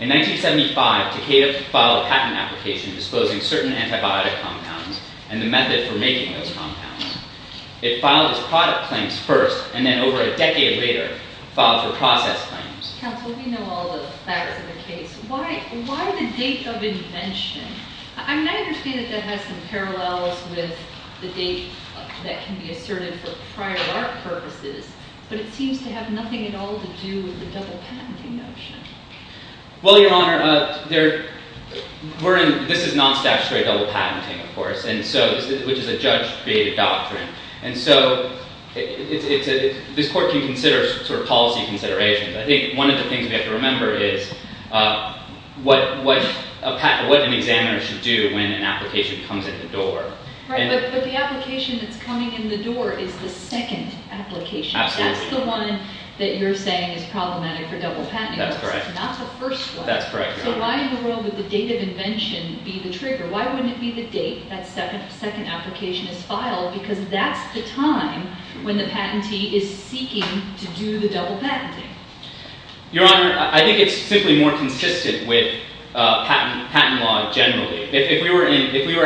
In 1975, Takeda filed a patent application disposing certain antibiotic compounds, and the method for making those compounds. It filed as product claims first, and then over a decade later, filed for process claims. Counsel, we know all the facts of the case. Why the date of invention? I mean, I understand that that has some parallels with the date that can be asserted for prior art purposes, but it seems to have nothing at all to do with the double patenting notion. Well, Your Honor, this is non-statutory double patenting, of course, which is a judge-created One of the things we have to remember is what an examiner should do when an application comes in the door. Right, but the application that's coming in the door is the second application. Absolutely. That's the one that you're saying is problematic for double patenting. That's correct. It's not the first one. That's correct, Your Honor. So why in the world would the date of invention be the trigger? Why wouldn't it be the date that second application is filed? Because that's the time when the patentee is seeking to do the double patenting. Your Honor, I think it's simply more consistent with patent law generally. It's simply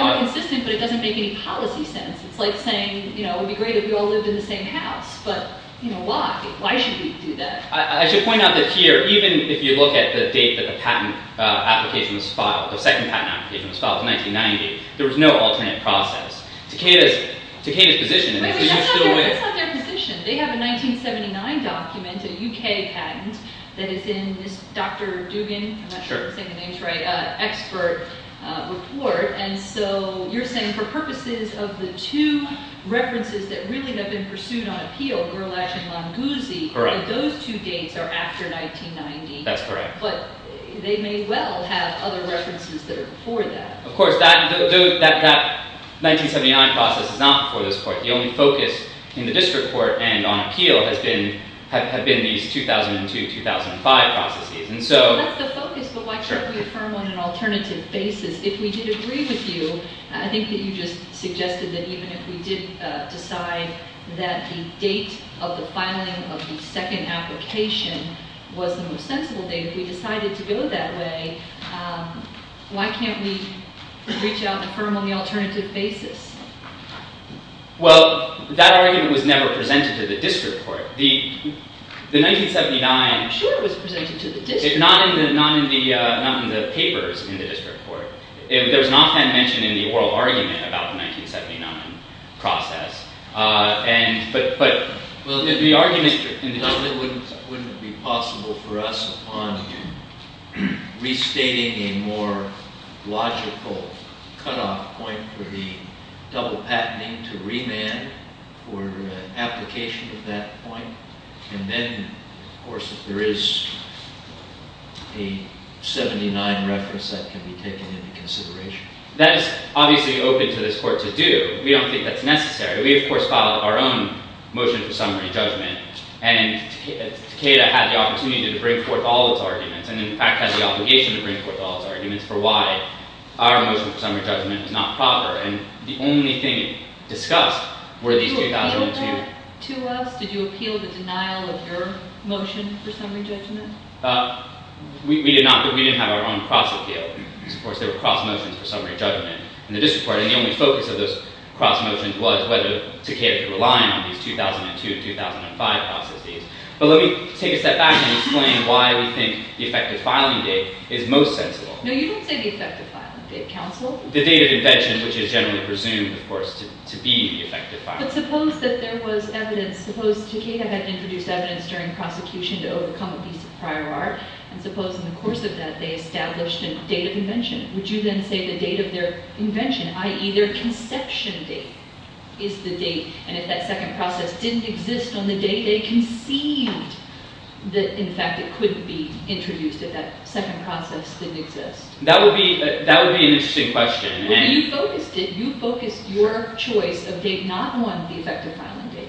more consistent, but it doesn't make any policy sense. It's like saying, you know, it would be great if we all lived in the same house, but, you know, why? Why should we do that? I should point out that here, even if you look at the date that the patent application was filed, the second patent application was filed in 1990, there was no alternate process. Takeda's position is... That's not their position. They have a 1979 document, a UK patent, that is in this Dr. Dugan, I'm not sure if I'm saying the name right, expert report. And so you're saying for purposes of the two references that really have been pursued on appeal, Gerlach and Longuzzi, those two dates are after 1990. That's correct. But they may well have other references that are before that. Of course, that 1979 process is not before this court. The only focus in the district court and on appeal have been these 2002-2005 processes. That's the focus, but why can't we affirm on an alternative basis? If we did agree with you, I think that you just suggested that even if we did decide that the date of the filing of the second application was the most sensible date, if we decided to go that way, why can't we reach out and affirm on the alternative basis? Well, that argument was never presented to the district court. The 1979... I'm sure it was presented to the district court. Not in the papers in the district court. There was not that mentioned in the oral argument about the 1979 process. But the argument... Wouldn't it be possible for us upon restating a more logical cutoff point for the double patenting to remand for application at that point? And then, of course, if there is a 1979 reference, that can be taken into consideration. That is obviously open to this court to do. We don't think that's necessary. We, of course, filed our own motion for summary judgment, and Takeda had the opportunity to bring forth all its arguments, and in fact had the obligation to bring forth all its arguments for why our motion for summary judgment was not proper. The only thing discussed were these 2002... Did you appeal that to us? Did you appeal the denial of your motion for summary judgment? We didn't have our own cross-appeal. Of course, there were cross-motions for summary judgment in the district court, and the only focus of those cross-motions was whether Takeda could rely on these 2002-2005 process dates. But let me take a step back and explain why we think the effective filing date is most sensible. No, you don't say the effective filing date, counsel. The date of invention, which is generally presumed, of course, to be the effective filing date. But suppose that there was evidence... Suppose Takeda had introduced evidence during prosecution to overcome abuse of prior art, would you then say the date of their invention, i.e., their conception date, is the date, and if that second process didn't exist on the date they conceived that, in fact, it could be introduced if that second process didn't exist? That would be an interesting question. You focused your choice of date not on the effective filing date,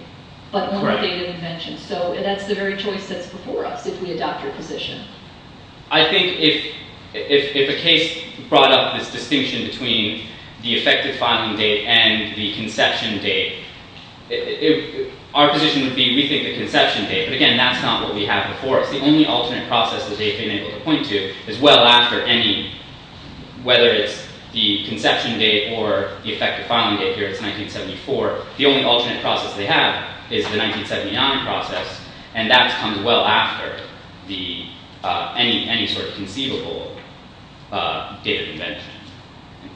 but on the date of invention. So that's the very choice that's before us if we adopt your position. I think if a case brought up this distinction between the effective filing date and the conception date, our position would be we think the conception date. But again, that's not what we have before us. The only alternate process that they've been able to point to is well after any... Whether it's the conception date or the effective filing date, here it's 1974, the only alternate process they have is the 1979 process, and that comes well after any sort of conceivable date of invention,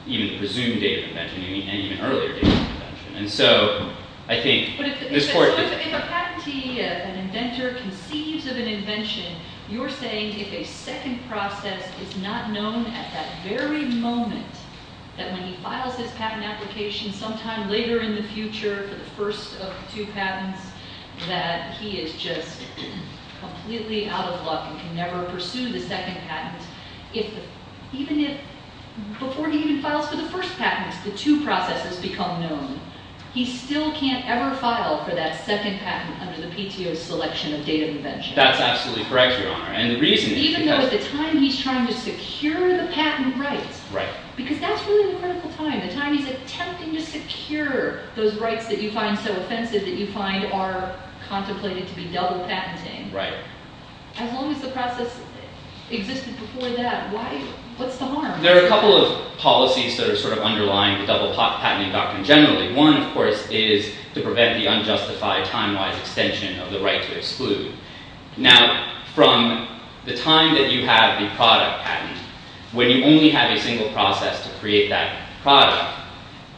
even the presumed date of invention, and even earlier date of invention. And so I think this court... But if a patentee, an inventor, conceives of an invention, you're saying if a second process is not known at that very moment, that when he files his patent application sometime later in the future for the first of the two patents, that he is just completely out of luck and can never pursue the second patent. Even if before he even files for the first patent, the two processes become known, he still can't ever file for that second patent under the PTO's selection of date of invention. That's absolutely correct, Your Honor. And the reason is because... Even though at the time he's trying to secure the patent rights. Right. Because that's really the critical time. The time he's attempting to secure those rights that you find so offensive, that you find are contemplated to be double patenting. Right. As long as the process existed before that, what's the harm? There are a couple of policies that are sort of underlying the double patenting doctrine generally. One, of course, is to prevent the unjustified time-wise extension of the right to exclude. Now, from the time that you have the product patent, when you only have a single process to create that product,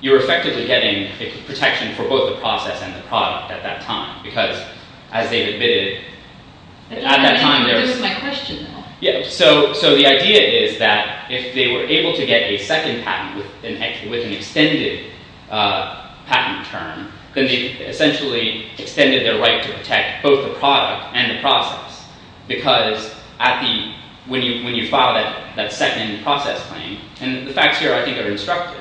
you're effectively getting protection for both the process and the product at that time. Because, as David admitted, at that time... I don't think I understood my question, though. So the idea is that if they were able to get a second patent with an extended patent term, then they essentially extended their right to protect both the product and the process. Because when you file that second process claim... And the facts here, I think, are instructive.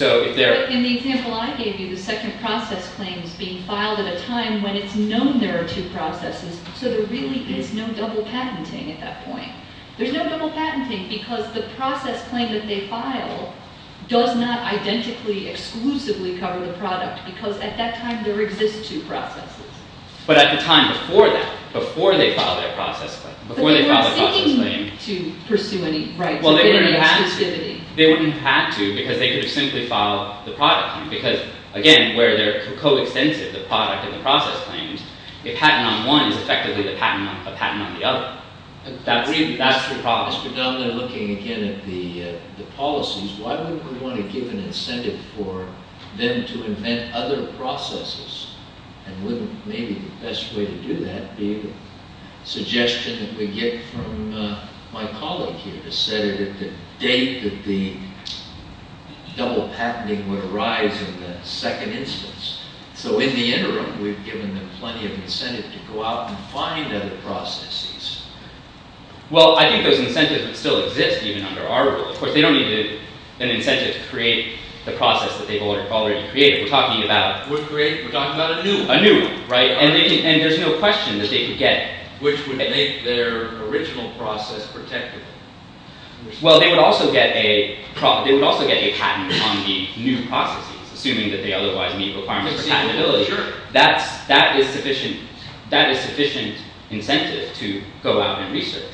In the example I gave you, the second process claim is being filed at a time when it's known there are two processes. So there really is no double patenting at that point. There's no double patenting because the process claim that they file does not identically, exclusively cover the product. Because at that time, there exist two processes. But at the time before that, before they filed their process claim... But they weren't seeking to pursue any rights of exclusivity. They wouldn't have had to because they could have simply filed the product claim. Because, again, where they're coextensive, the product and the process claims, a patent on one is effectively a patent on the other. That's the problem. I was predominantly looking, again, at the policies. Why wouldn't we want to give an incentive for them to invent other processes? And wouldn't maybe the best way to do that be the suggestion that we get from my colleague here, to set it at the date that the double patenting would arise in the second instance. So in the interim, we've given them plenty of incentive to go out and find other processes. Well, I think those incentives would still exist even under our rule. Of course, they don't need an incentive to create the process that they've already created. We're talking about... We're talking about a new one. A new one, right? And there's no question that they could get... Which would make their original process protectable. Well, they would also get a patent on the new processes, assuming that they otherwise meet requirements for patentability. That is sufficient incentive to go out and research.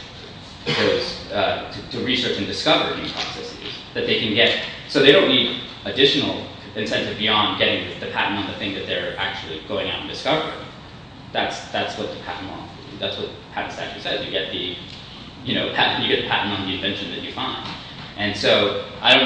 To research and discover new processes that they can get. So they don't need additional incentive beyond getting the patent on the thing that they're actually going out and discovering. That's what the patent statute says. You get a patent on the invention that you find. And so I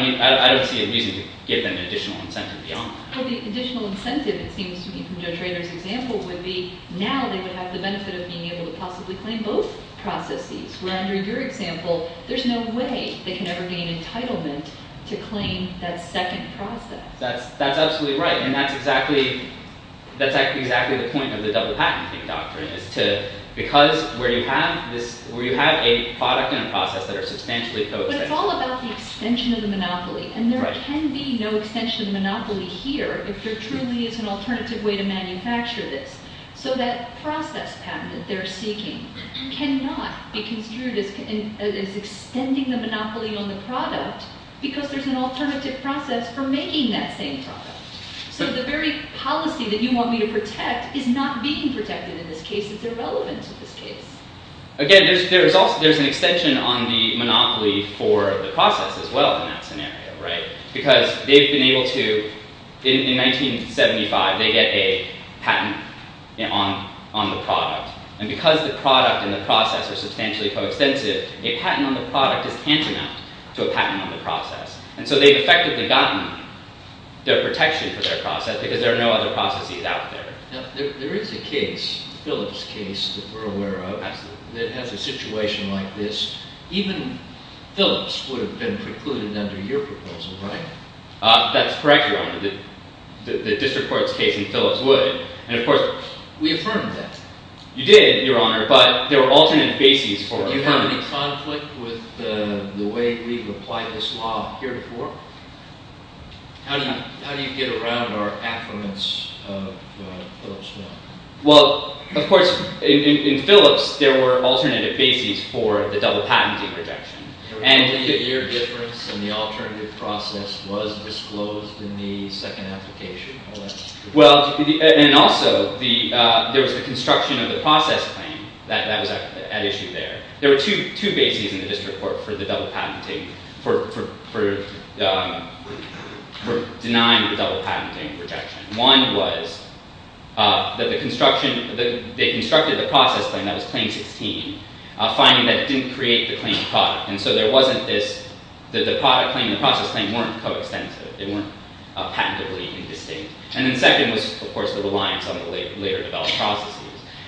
don't see a reason to give them additional incentive beyond that. But the additional incentive, it seems to me, from Joe Trader's example would be... Now they would have the benefit of being able to possibly claim both processes. Where under your example, there's no way they can ever gain entitlement to claim that second process. That's absolutely right. And that's exactly the point of the double patent doctrine. Because where you have a product and a process that are substantially co-extended... But it's all about the extension of the monopoly. And there can be no extension of the monopoly here if there truly is an alternative way to manufacture this. So that process patent that they're seeking cannot be construed as extending the monopoly on the product. Because there's an alternative process for making that same product. So the very policy that you want me to protect is not being protected in this case. It's irrelevant in this case. Again, there's an extension on the monopoly for the process as well in that scenario. Because they've been able to... In 1975, they get a patent on the product. And because the product and the process are substantially co-extensive, a patent on the product is tantamount to a patent on the process. And so they've effectively gotten their protection for their process, because there are no other processes out there. Now, there is a case, a Phillips case that we're aware of, that has a situation like this. Even Phillips would have been precluded under your proposal, right? That's correct, Your Honor. The district court's case in Phillips would. And of course... We affirmed that. You did, Your Honor. But there were alternate bases for it. Do you have any conflict with the way we've applied this law here before? How do you get around our affirmance of Phillips law? Well, of course, in Phillips, there were alternative bases for the double patenting rejection. Your difference in the alternative process was disclosed in the second application. Well, and also, there was the construction of the process claim that was at issue there. There were two bases in the district court for denying the double patenting rejection. One was that they constructed the process claim that was Claim 16, finding that it didn't create the claimed product. And so the product claim and the process claim weren't coextensive. They weren't patentably indistinct. And then second was, of course, the reliance on the later-developed processes.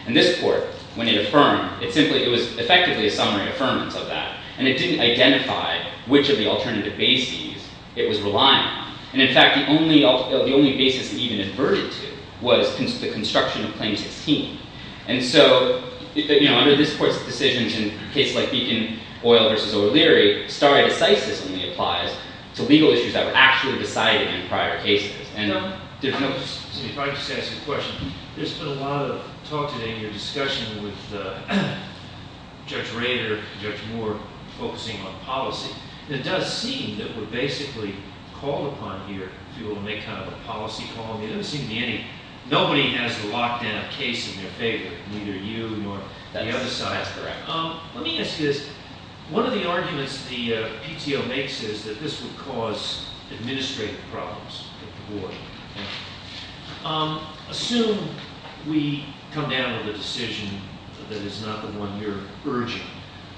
And this court, when it affirmed, it was effectively a summary affirmance of that. And it didn't identify which of the alternative bases it was relying on. And in fact, the only basis it even adverted to was the construction of Claim 16. And so under this court's decisions in cases like Beacon Oil v. O'Leary, stare decisis only applies to legal issues that were actually decided in prior cases. If I could just ask you a question. There's been a lot of talk today in your discussion with Judge Rader, Judge Moore, focusing on policy. It does seem that we're basically called upon here to make kind of a policy call. There doesn't seem to be any—nobody has the lockdown case in their favor, neither you nor the other side. Let me ask you this. One of the arguments the PTO makes is that this would cause administrative problems for the board. Assume we come down with a decision that is not the one you're urging.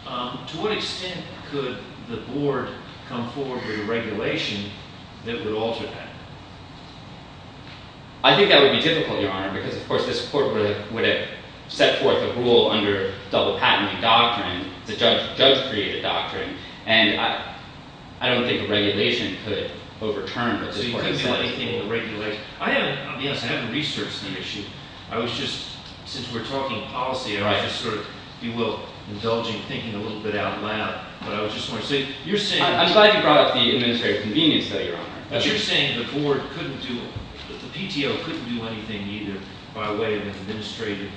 To what extent could the board come forward with a regulation that would alter that? I think that would be difficult, Your Honor, because of course this court would have set forth a rule under double-patenting doctrine, the judge-created doctrine, and I don't think a regulation could overturn what this court has said. But you couldn't do anything with a regulation. I haven't—to be honest, I haven't researched the issue. I was just—since we're talking policy, I was just sort of, if you will, indulging thinking a little bit out loud. But I was just wondering. So you're saying— I'm glad you brought up the administrative convenience, though, Your Honor. But you're saying the board couldn't do—the PTO couldn't do anything either by way of an administrative—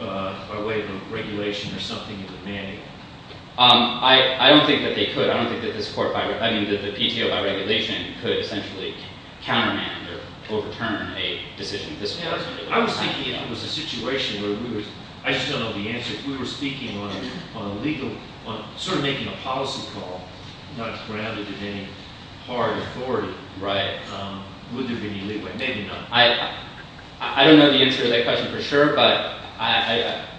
by way of a regulation or something in the mandate? I don't think that they could. I don't think that this court—I mean, that the PTO, by regulation, could essentially countermand or overturn a decision of this kind. I was thinking if it was a situation where we were—I just don't know the answer. If we were speaking on a legal—sort of making a policy call, not grounded in any hard authority, would there be any legal—maybe not. I don't know the answer to that question for sure, but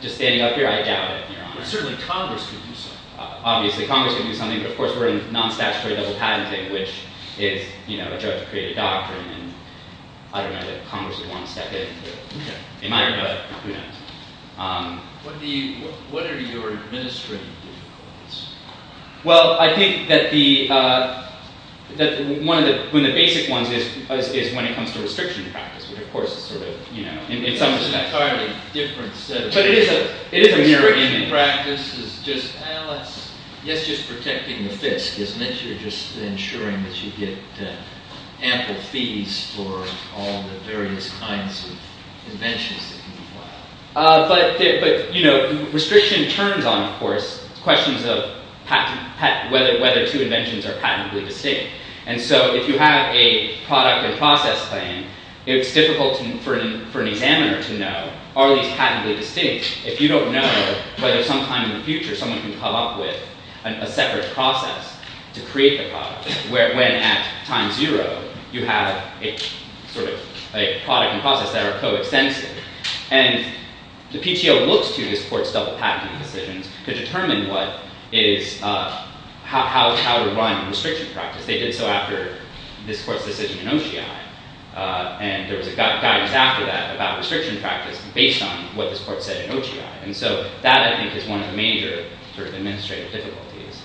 just standing up here, I doubt it, Your Honor. But certainly Congress could do something. Obviously Congress could do something, but of course we're in non-statutory double patenting, which is, you know, a judge created a doctrine, and I don't know that Congress would want to step in. Okay. They might, but who knows. What do you—what are your administrative difficulties? Well, I think that the—one of the basic ones is when it comes to restriction practice, which of course is sort of, you know— It's entirely different. But it is a mirror image. Restriction practice is just—well, it's just protecting the fisk, isn't it? You're just ensuring that you get ample fees for all the various kinds of inventions that can be filed. But, you know, restriction turns on, of course, questions of whether two inventions are patently distinct. And so if you have a product and process plan, it's difficult for an examiner to know, are these patently distinct? If you don't know whether sometime in the future someone can come up with a separate process to create the product, when at time zero you have a sort of—a product and process that are coextensive. And the PTO looks to this court's double patenting decisions to determine what is—how to run restriction practice. They did so after this court's decision in OCI. And there was guidance after that about restriction practice based on what this court said in OCI. And so that, I think, is one of the major sort of administrative difficulties.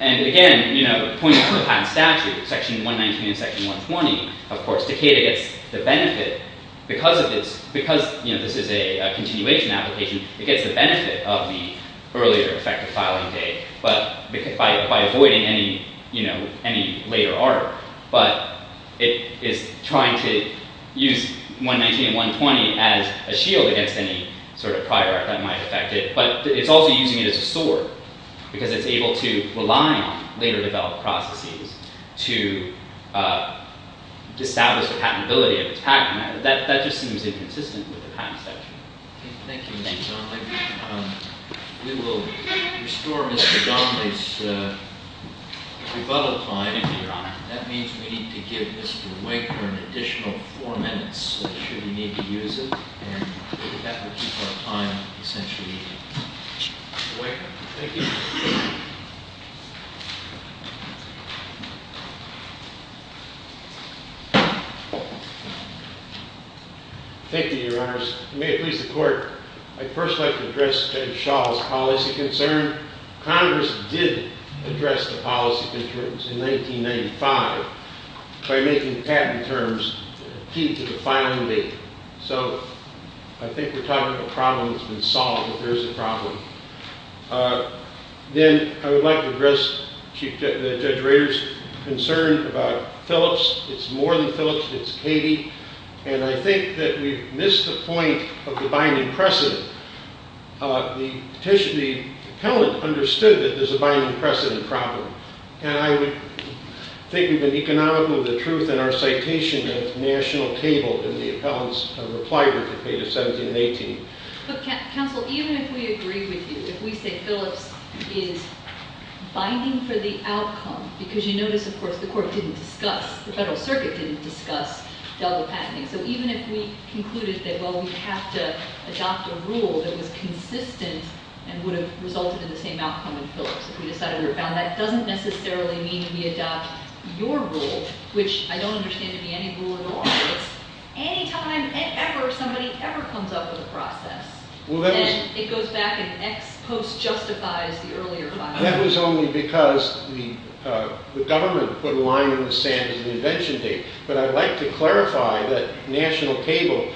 And again, you know, pointing to the patent statute, Section 119 and Section 120, of course, Decatur gets the benefit because of its—because, you know, this is a continuation application, it gets the benefit of the earlier effective filing date by avoiding any, you know, any later art. But it is trying to use 119 and 120 as a shield against any sort of prior art that might affect it. But it's also using it as a sword because it's able to rely on later developed processes to establish the patentability of its patent. That just seems inconsistent with the patent statute. Thank you, Mr. Donley. We will restore Mr. Donley's rebuttal time. Thank you, Your Honor. That means we need to give Mr. Winker an additional four minutes. I'm sure we need to use it. And we have to keep our time, essentially. Mr. Winker. Thank you. Thank you, Your Honors. May it please the Court, I'd first like to address Ed Shaw's policy concern. Congress did address the policy concerns in 1995 by making patent terms key to the filing date. So I think we're talking about a problem that's been solved, but there is a problem. Then I would like to address Judge Rader's concern about Phillips. It's more than Phillips, it's Katie. And I think that we've missed the point of the binding precedent. The appellant understood that there's a binding precedent problem. And I would think we've been economical of the truth in our citation at the national table in the appellant's reply report dated 17 and 18. But counsel, even if we agree with you, if we say Phillips is binding for the outcome, because you notice, of course, the court didn't discuss, the Federal Circuit didn't discuss, double patenting. So even if we concluded that, well, we have to adopt a rule that was consistent and would have resulted in the same outcome in Phillips, if we decided we were bound, that doesn't necessarily mean we adopt your rule, which I don't understand to be any rule at all. It's any time ever somebody ever comes up with a process, and it goes back and ex post justifies the earlier filing date. That was only because the government put a line in the sand as an invention date. But I'd like to clarify that national table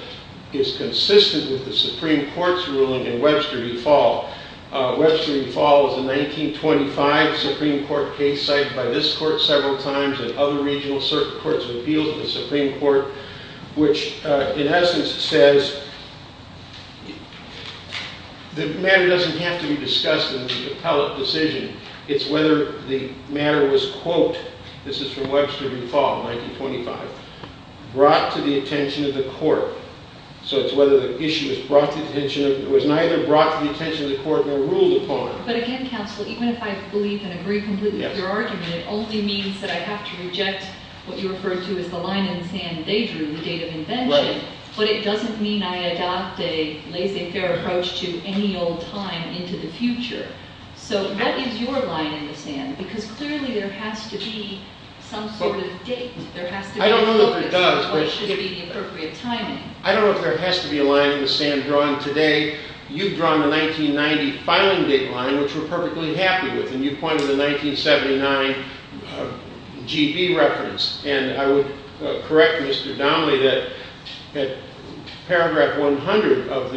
is consistent with the Supreme Court's ruling in Webster v. Fall. Webster v. Fall is a 1925 Supreme Court case cited by this court several times and other regional circuit courts of appeals in the Supreme Court, which in essence says the matter doesn't have to be discussed in the appellate decision. It's whether the matter was, quote, this is from Webster v. Fall, 1925, brought to the attention of the court. So it's whether the issue was neither brought to the attention of the court nor ruled upon. But again, counsel, even if I believe and agree completely with your argument, it only means that I have to reject what you referred to as the line in the sand they drew, the date of invention. Right. But it doesn't mean I adopt a laissez-faire approach to any old time into the future. So what is your line in the sand? Because clearly there has to be some sort of date. There has to be a focus on what should be the appropriate timing. I don't know if there has to be a line in the sand drawn today. You've drawn the 1990 filing date line, which we're perfectly happy with. And you pointed to the 1979 GB reference. And I would correct Mr. Donnelly that paragraph 100 of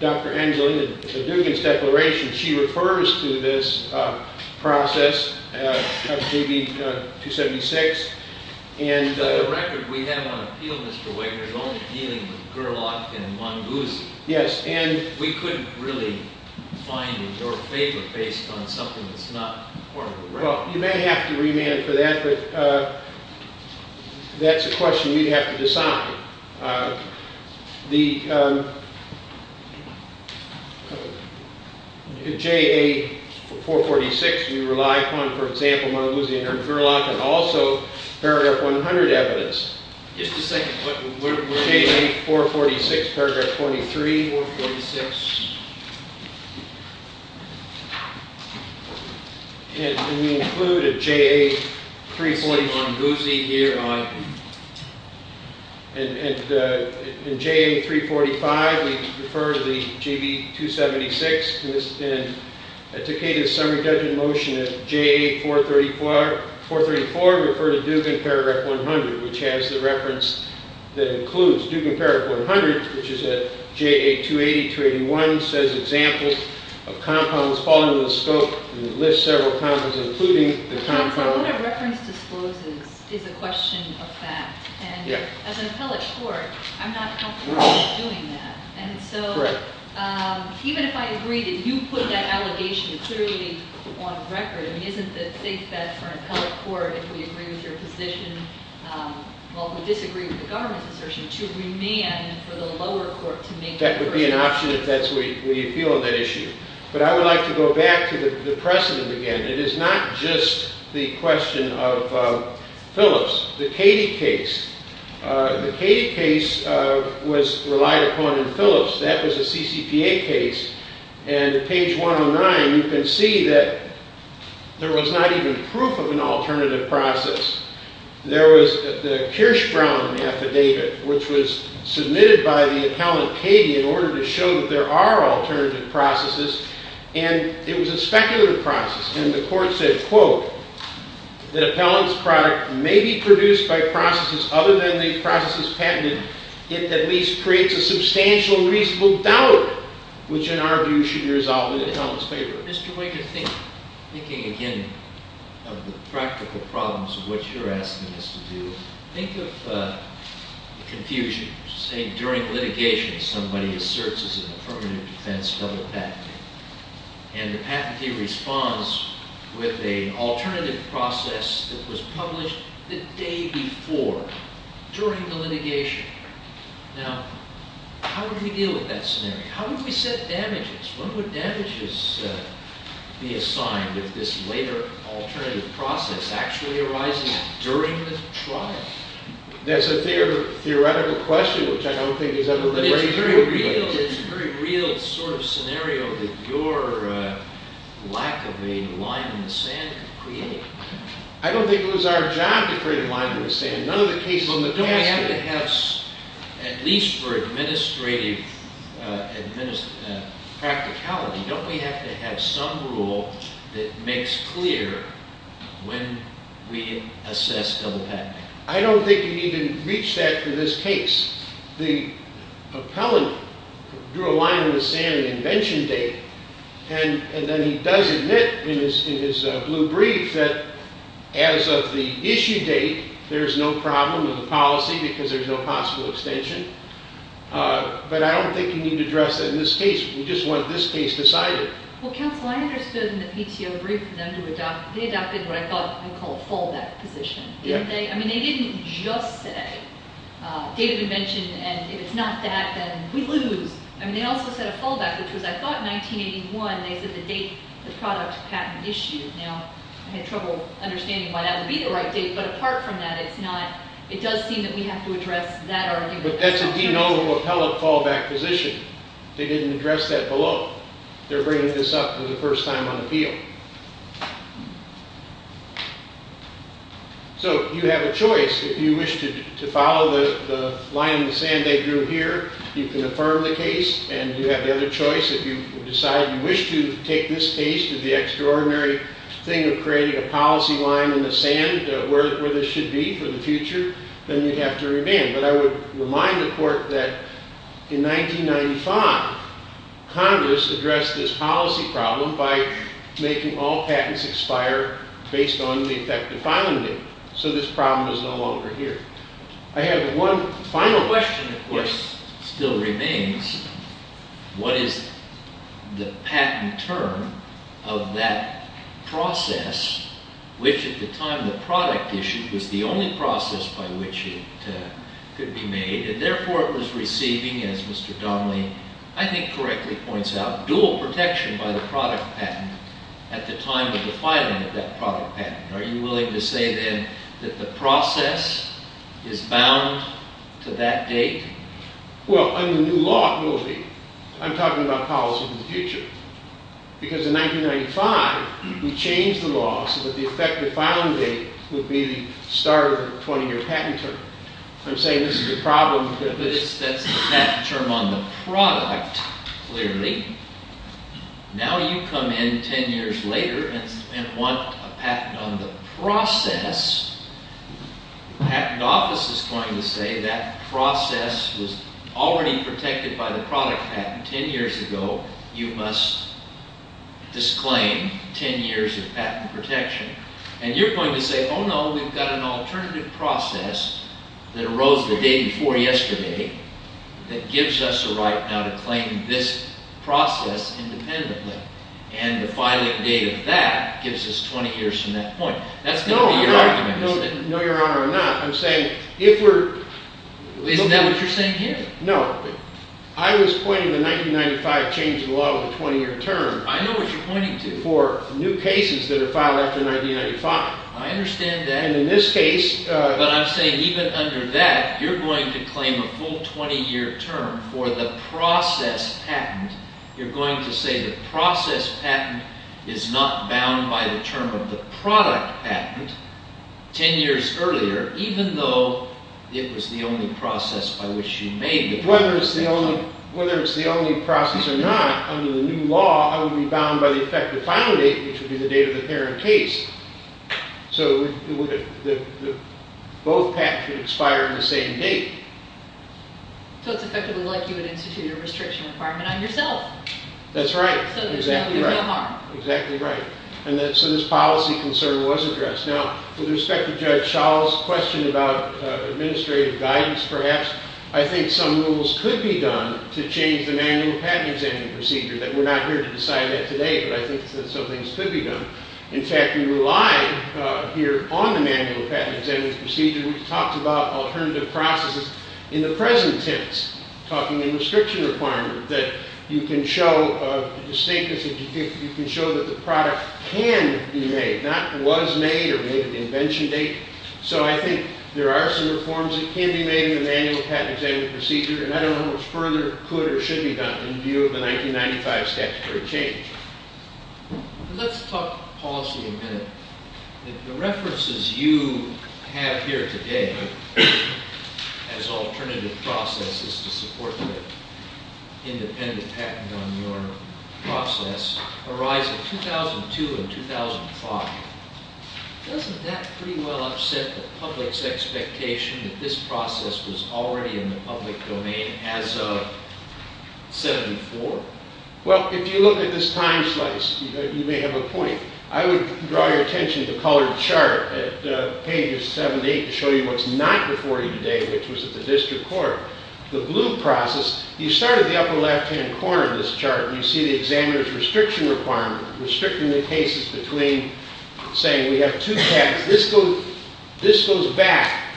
Dr. Angelina Dugan's declaration, she refers to this process of GB 276. The record we have on appeal, Mr. Wagner, is only dealing with Gerlach and Munguzi. Yes. We couldn't really find in your favor based on something that's not formally recognized. Well, you may have to remand for that, but that's a question we'd have to decide. The JA 446 we rely upon, for example, Munguzi and Gerlach, and also paragraph 100 evidence. Just a second. JA 446, paragraph 23, 446. And we include a JA 341 Munguzi here. And in JA 345, we refer to the GB 276. And to take a summary judgment motion at JA 434, we refer to Dugan paragraph 100, which has the reference that includes Dugan paragraph 100, which is at JA 280, 281, says examples of compounds falling into the scope, and lists several compounds, including the compound. What a reference discloses is a question of fact. And as an appellate court, I'm not comfortable with doing that. And so even if I agree that you put that allegation clearly on record, isn't it safe for an appellate court, if we agree with your position, while we disagree with the government's assertion, to remand for the lower court to make a decision? That would be an option if that's what you feel on that issue. But I would like to go back to the precedent again. It is not just the question of Phillips. The Cady case. The Cady case was relied upon in Phillips. That was a CCPA case. And page 109, you can see that there was not even proof of an alternative process. There was the Kirschbrown affidavit, which was submitted by the appellant Cady in order to show that there are alternative processes. And it was a speculative process. And the court said, quote, that appellant's product may be produced by processes other than the processes patented. It at least creates a substantial reasonable doubt, which in our view should be resolved in the appellant's favor. Mr. Waker, thinking again of the practical problems of what you're asking us to do, think of the confusion, say, during litigation, somebody asserts as an affirmative defense public patent. And the patentee responds with an alternative process that was published the day before, during the litigation. Now, how would we deal with that scenario? How would we set damages? When would damages be assigned if this later alternative process actually arises during the trial? That's a theoretical question, which I don't think has ever been raised before. But it's a very real sort of scenario that your lack of a line in the sand could create. I don't think it was our job to create a line in the sand. None of the cases in the past did. We have to have, at least for administrative practicality, don't we have to have some rule that makes clear when we assess double patenting? I don't think you can even reach that for this case. The appellant drew a line in the sand on the invention date, and then he does admit in his blue brief that as of the issue date, there's no problem with the policy because there's no possible extension. But I don't think you need to address that in this case. We just want this case decided. Well, counsel, I understood in the PTO brief, they adopted what I call a fallback position. I mean, they didn't just say date of invention, and if it's not that, then we lose. I mean, they also said a fallback, which was, I thought, 1981. They said the date the product patent issued. Now, I had trouble understanding why that would be the right date. But apart from that, it does seem that we have to address that argument. But that's a denominal appellate fallback position. They didn't address that below. They're bringing this up for the first time on the field. So you have a choice. If you wish to follow the line in the sand they drew here, you can affirm the case, and you have the other choice. If you decide you wish to take this case to the extraordinary thing of creating a policy line in the sand where this should be for the future, then you'd have to remand. But I would remind the court that in 1995, Congress addressed this policy problem by making all patents expire based on the effective filing date. So this problem is no longer here. I have one final question, of course, still remains. What is the patent term of that process, which at the time the product issue was the only process by which it could be made, and therefore it was receiving, as Mr. Donnelly I think correctly points out, dual protection by the product patent at the time of the filing of that product patent? Are you willing to say, then, that the process is bound to that date? Well, under the new law, it will be. I'm talking about policy of the future. Because in 1995, we changed the law so that the effective filing date would be the start of the 20-year patent term. I'm saying this is a problem. That's the patent term on the product, clearly. Now you come in 10 years later and want a patent on the process. The Patent Office is going to say that process was already protected by the product patent 10 years ago. You must disclaim 10 years of patent protection. And you're going to say, oh no, we've got an alternative process that arose the day before yesterday that gives us a right now to claim this process independently. And the filing date of that gives us 20 years from that point. That's going to be your argument, isn't it? No, Your Honor, I'm not. I'm saying if we're... Isn't that what you're saying here? No. I was pointing the 1995 change in the law of the 20-year term... I know what you're pointing to. For new cases that are filed after 1995. I understand that. And in this case... But I'm saying even under that, you're going to claim a full 20-year term for the process patent. You're going to say the process patent is not bound by the term of the product patent 10 years earlier, even though it was the only process by which you made the patent. Whether it's the only process or not, under the new law, I would be bound by the effective filing date, which would be the date of the parent case. So both patents would expire on the same date. So it's effectively like you would institute a restriction requirement on yourself. That's right. So there's no harm. Exactly right. And so this policy concern was addressed. Now, with respect to Judge Schall's question about administrative guidance, perhaps, I think some rules could be done to change the manual patent examination procedure. We're not here to decide that today, but I think that some things could be done. In fact, we rely here on the manual patent examination procedure. We've talked about alternative processes in the present tense, talking in restriction requirement, that you can show that the product can be made, not was made or made at the invention date. So I think there are some reforms that can be made in the manual patent examination procedure. And I don't know what further could or should be done in view of the 1995 statutory change. Let's talk policy a minute. The references you have here today as alternative processes to support the independent patent on your process arise in 2002 and 2005. Doesn't that pretty well upset the public's expectation that this process was already in the public domain as of 74? Well, if you look at this time slice, you may have a point. I would draw your attention to the colored chart at pages 7 to 8 to show you what's not before you today, which was at the district court. The blue process, you start at the upper left-hand corner of this chart, and you see the examiner's restriction requirement, restricting the cases between saying we have two patents. This goes back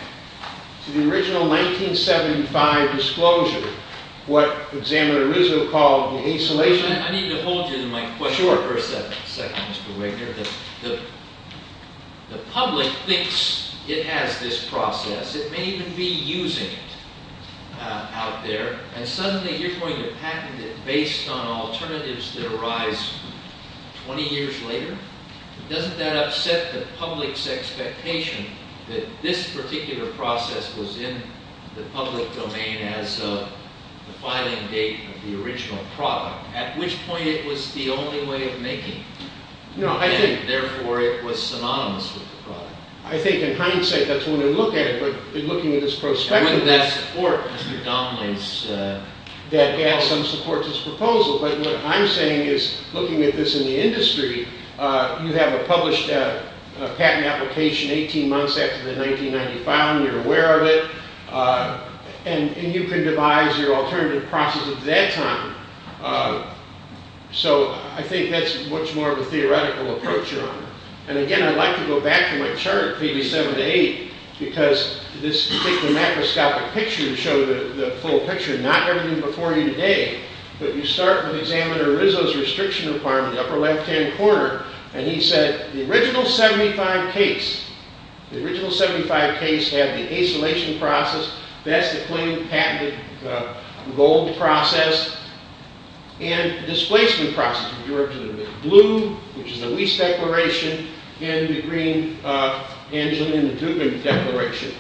to the original 1975 disclosure, what examiner originally called the isolation. I need to hold you to my question for a second, Mr. Wigner. The public thinks it has this process. It may even be using it out there. 20 years later? Doesn't that upset the public's expectation that this particular process was in the public domain as of the filing date of the original product, at which point it was the only way of making it, and therefore it was synonymous with the product? I think in hindsight, that's the way to look at it, but looking at this prospectively. Wouldn't that support Mr. Donnelly's proposal? That has some support to his proposal, but what I'm saying is, looking at this in the industry, you have a published patent application 18 months after the 1995, and you're aware of it, and you can devise your alternative process at that time. I think that's much more of a theoretical approach you're on. Again, I'd like to go back to my chart, 87 to 8, because this particular macroscopic picture shows the full picture, not everything before you today, but you start with Examiner Rizzo's restriction requirement, the upper left-hand corner, and he said the original 75 case, the original 75 case had the acylation process, that's the plain patented gold process, and displacement process, blue, which is the Weiss Declaration, and the green, Angelina Dupin Declaration.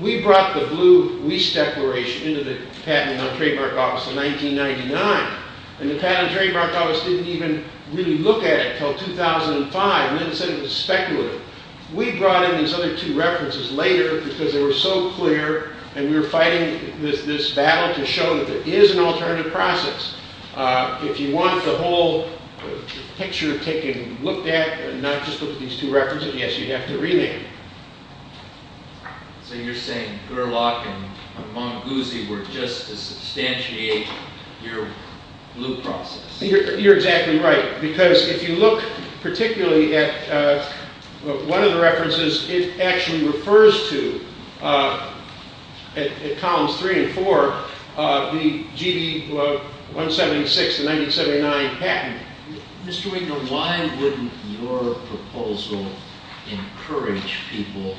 We brought the blue Weiss Declaration into the Patent and Trademark Office in 1999, and the Patent and Trademark Office didn't even really look at it until 2005, and then said it was speculative. We brought in these other two references later because they were so clear, and we were fighting this battle to show that there is an alternative process. If you want the whole picture taken, looked at, and not just look at these two references, yes, you have to rename it. So you're saying Gerlach and Montaguzzi were just to substantiate your blue process? You're exactly right, because if you look particularly at one of the references, it actually refers to, at columns 3 and 4, the GB 176 to 1979 patent. Mr. Wigner, why wouldn't your proposal encourage people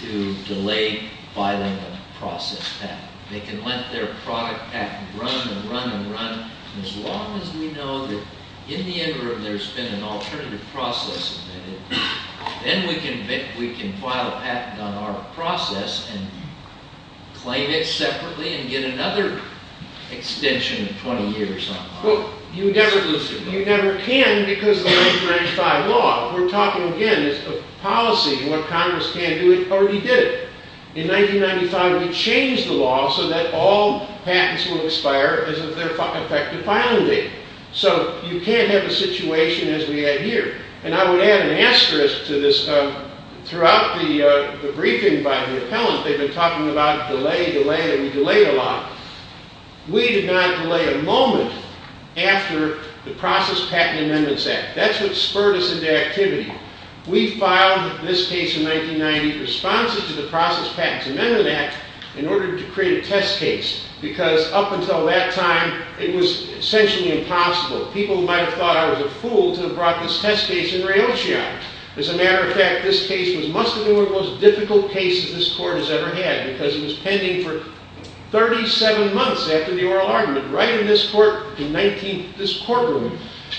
to delay filing a process patent? They can let their product patent run and run and run, as long as we know that in the interim there's been an alternative process invented. Then we can file a patent on our process and claim it separately and get another extension of 20 years on it. Well, you never can because of the 1995 law. We're talking, again, it's a policy. What Congress can do, it already did. In 1995, we changed the law so that all patents will expire as of their effective filing date. So you can't have a situation as we had here. And I would add an asterisk to this. Throughout the briefing by the appellant, they've been talking about delay, delay, and we delayed a lot. We did not delay a moment after the Process Patent Amendments Act. That's what spurred us into activity. We filed this case in 1990 in response to the Process Patents Amendments Act in order to create a test case because up until that time, it was essentially impossible. People might have thought I was a fool to have brought this test case in rail shot. As a matter of fact, this case must have been one of the most difficult cases this court has ever had because it was pending for 37 months after the oral argument. Right in this courtroom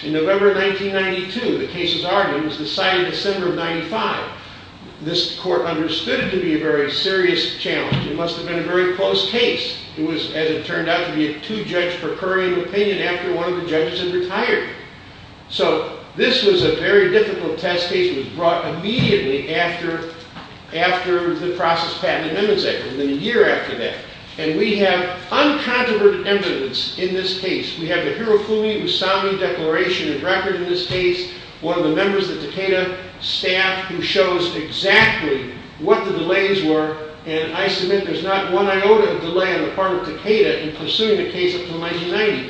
in November 1992, the case's argument was decided December of 1995. This court understood it to be a very serious challenge. It must have been a very close case. It was, as it turned out, to be a two-judge per current opinion after one of the judges had retired. So this was a very difficult test case. It was brought immediately after the Process Patent Amendments Act, and then a year after that. And we have uncontroverted evidence in this case. We have the Hirofumi Usami Declaration of Record in this case, one of the members of the Takeda staff who shows exactly what the delays were, and I submit there's not one iota of delay on the part of Takeda in pursuing the case up until 1990.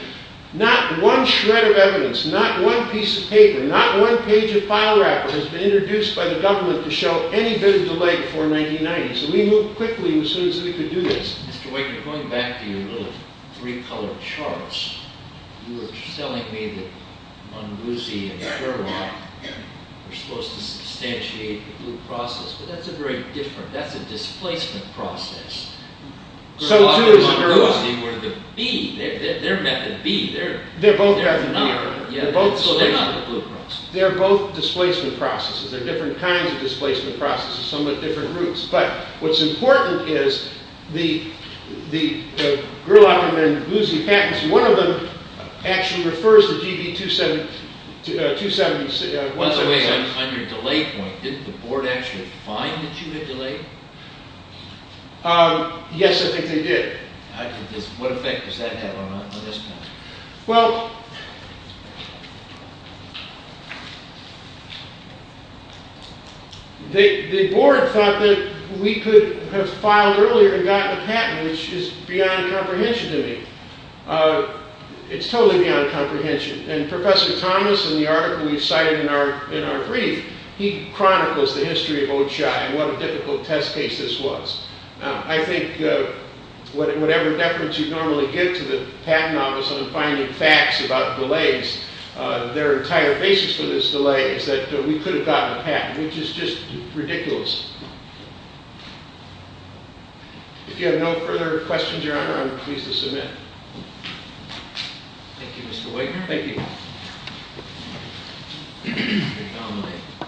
Not one shred of evidence, not one piece of paper, not one page of file wrapper has been introduced by the government to show any bit of delay before 1990. So we moved quickly as soon as we could do this. Mr. Waker, going back to your little three-colored charts, you were telling me that Munguzi and Fermat were supposed to substantiate the Blue Process, but that's a very different, that's a displacement process. Gerlach and Munguzi were the B, they're method B, they're not the Blue Process. They're both displacement processes. They're different kinds of displacement processes, somewhat different routes. But what's important is the Gerlach and Munguzi patents, one of them actually refers to GB 276. By the way, on your delay point, didn't the board actually find that you had delayed? Yes, I think they did. What effect does that have on this patent? Well, the board thought that we could have filed earlier and gotten a patent, which is beyond comprehension to me. It's totally beyond comprehension. And Professor Thomas, in the article we cited in our brief, he chronicles the history of Ochi and what a difficult test case this was. I think whatever deference you normally give to the patent office on finding facts about delays, their entire basis for this delay is that we could have gotten a patent, which is just ridiculous. If you have no further questions, Your Honor, I'm pleased to submit. Thank you, Mr. Wagner. Thank you. Mr. Connolly, it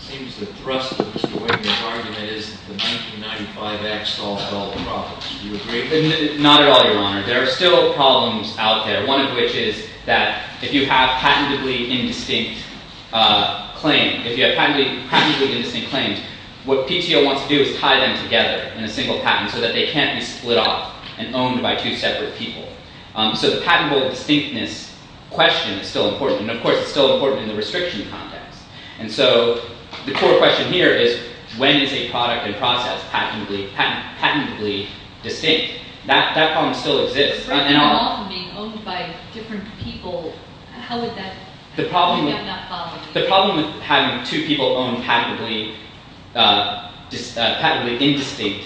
seems the thrust of this argument is that the 1995 Act solved all the problems. Do you agree? Not at all, Your Honor. There are still problems out there, one of which is that if you have patentably indistinct claims, if you have patentably indistinct claims, what PTO wants to do is tie them together in a single patent so that they can't be split off and owned by two separate people. So the patentable distinctness question is still important. And, of course, it's still important in the restriction context. And so the core question here is, when is a product and process patentably distinct? That problem still exists. If a product and process are being owned by different people, how would that have that problem? The problem with having two people own patentably indistinct…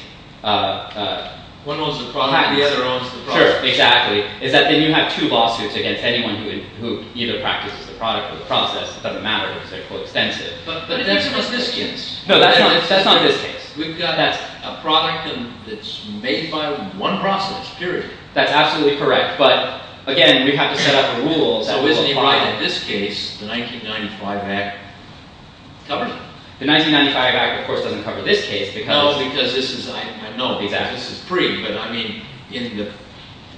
One owns the product and the other owns the process. Sure, exactly. Then you have two lawsuits against anyone who either practices the product or the process. It doesn't matter because they're coextensive. But that's not this case. No, that's not this case. We've got a product that's made by one process, period. That's absolutely correct. But, again, we have to set up rules that will apply. So isn't it right in this case the 1995 Act covers it? The 1995 Act, of course, doesn't cover this case because… No, because this is, I know, this is pre. But, I mean, in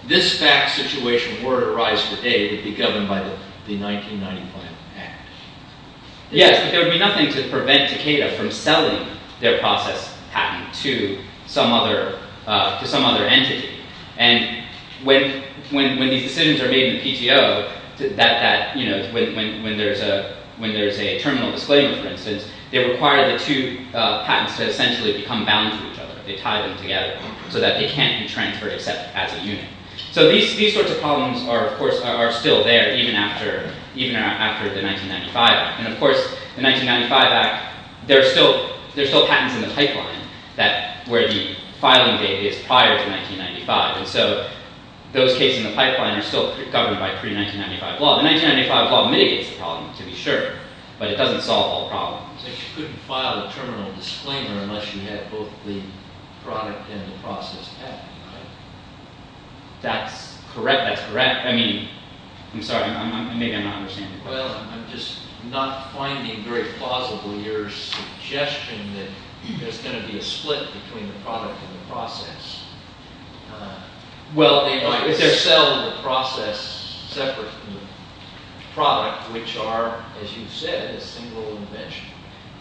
this fact situation, were it to arise today, it would be governed by the 1995 Act. Yes, but there would be nothing to prevent Takeda from selling their process patent to some other entity. And when these decisions are made in the PTO, when there's a terminal disclaimer, for instance, they require the two patents to essentially become bound to each other. They tie them together so that they can't be transferred except as a unit. So these sorts of problems are, of course, are still there even after the 1995 Act. And, of course, the 1995 Act, there are still patents in the pipeline where the filing date is prior to 1995. And so those cases in the pipeline are still governed by pre-1995 law. The 1995 law mitigates the problem, to be sure, but it doesn't solve all problems. So you couldn't file a terminal disclaimer unless you had both the product and the process patent, right? That's correct, that's correct. I mean, I'm sorry, maybe I'm not understanding. Well, I'm just not finding very plausibly your suggestion that there's going to be a split between the product and the process. Well, if they're selling the process separate from the product, which are, as you said, a single invention.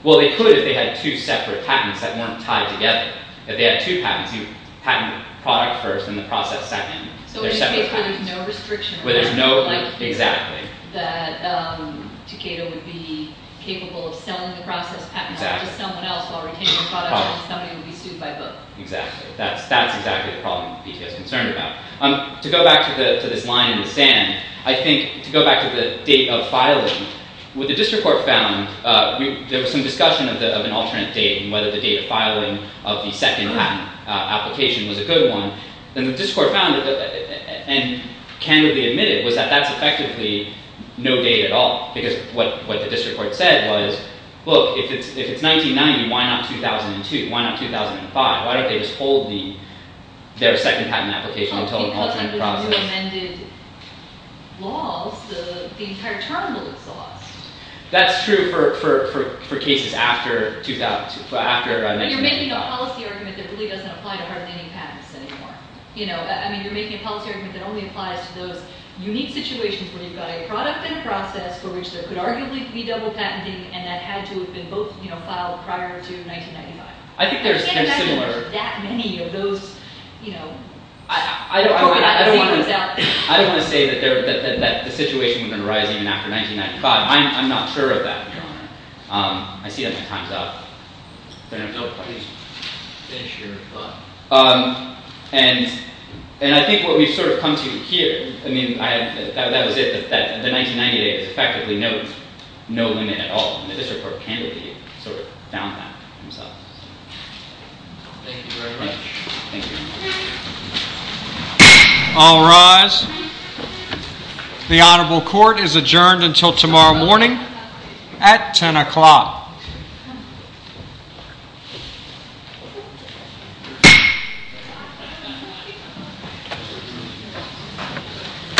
Well, they could if they had two separate patents that weren't tied together. If they had two patents, you patent the product first and the process second. So in this case, there's no restriction. Exactly. That Takeda would be capable of selling the process patent to someone else while retaining the product and somebody would be sued by both. Exactly. That's exactly the problem that Takeda is concerned about. To go back to this line in the sand, I think, to go back to the date of filing, what the district court found, there was some discussion of an alternate date and whether the date of filing of the second patent application was a good one. And the district court found, and candidly admitted, was that that's effectively no date at all. Because what the district court said was, look, if it's 1990, why not 2002? Why not 2005? Why don't they just hold their second patent application until an alternate process? Because under the new amended laws, the entire term will exhaust. That's true for cases after 2002. But you're making a policy argument that really doesn't apply to hard-leaning patents anymore. I mean, you're making a policy argument that only applies to those unique situations where you've got a product and a process for which there could arguably be double patenting and that had to have been both filed prior to 1995. I think they're similar. I can't imagine there's that many of those. I don't want to say that the situation would have been rising even after 1995. I'm not sure of that. I see that my time's up. No, please finish your thought. And I think what we've sort of come to here, I mean, that was it. The 1990 date is effectively no limit at all. And the district court candidly sort of found that. Thank you very much. All rise. The Honorable Court is adjourned until tomorrow morning at 10 o'clock.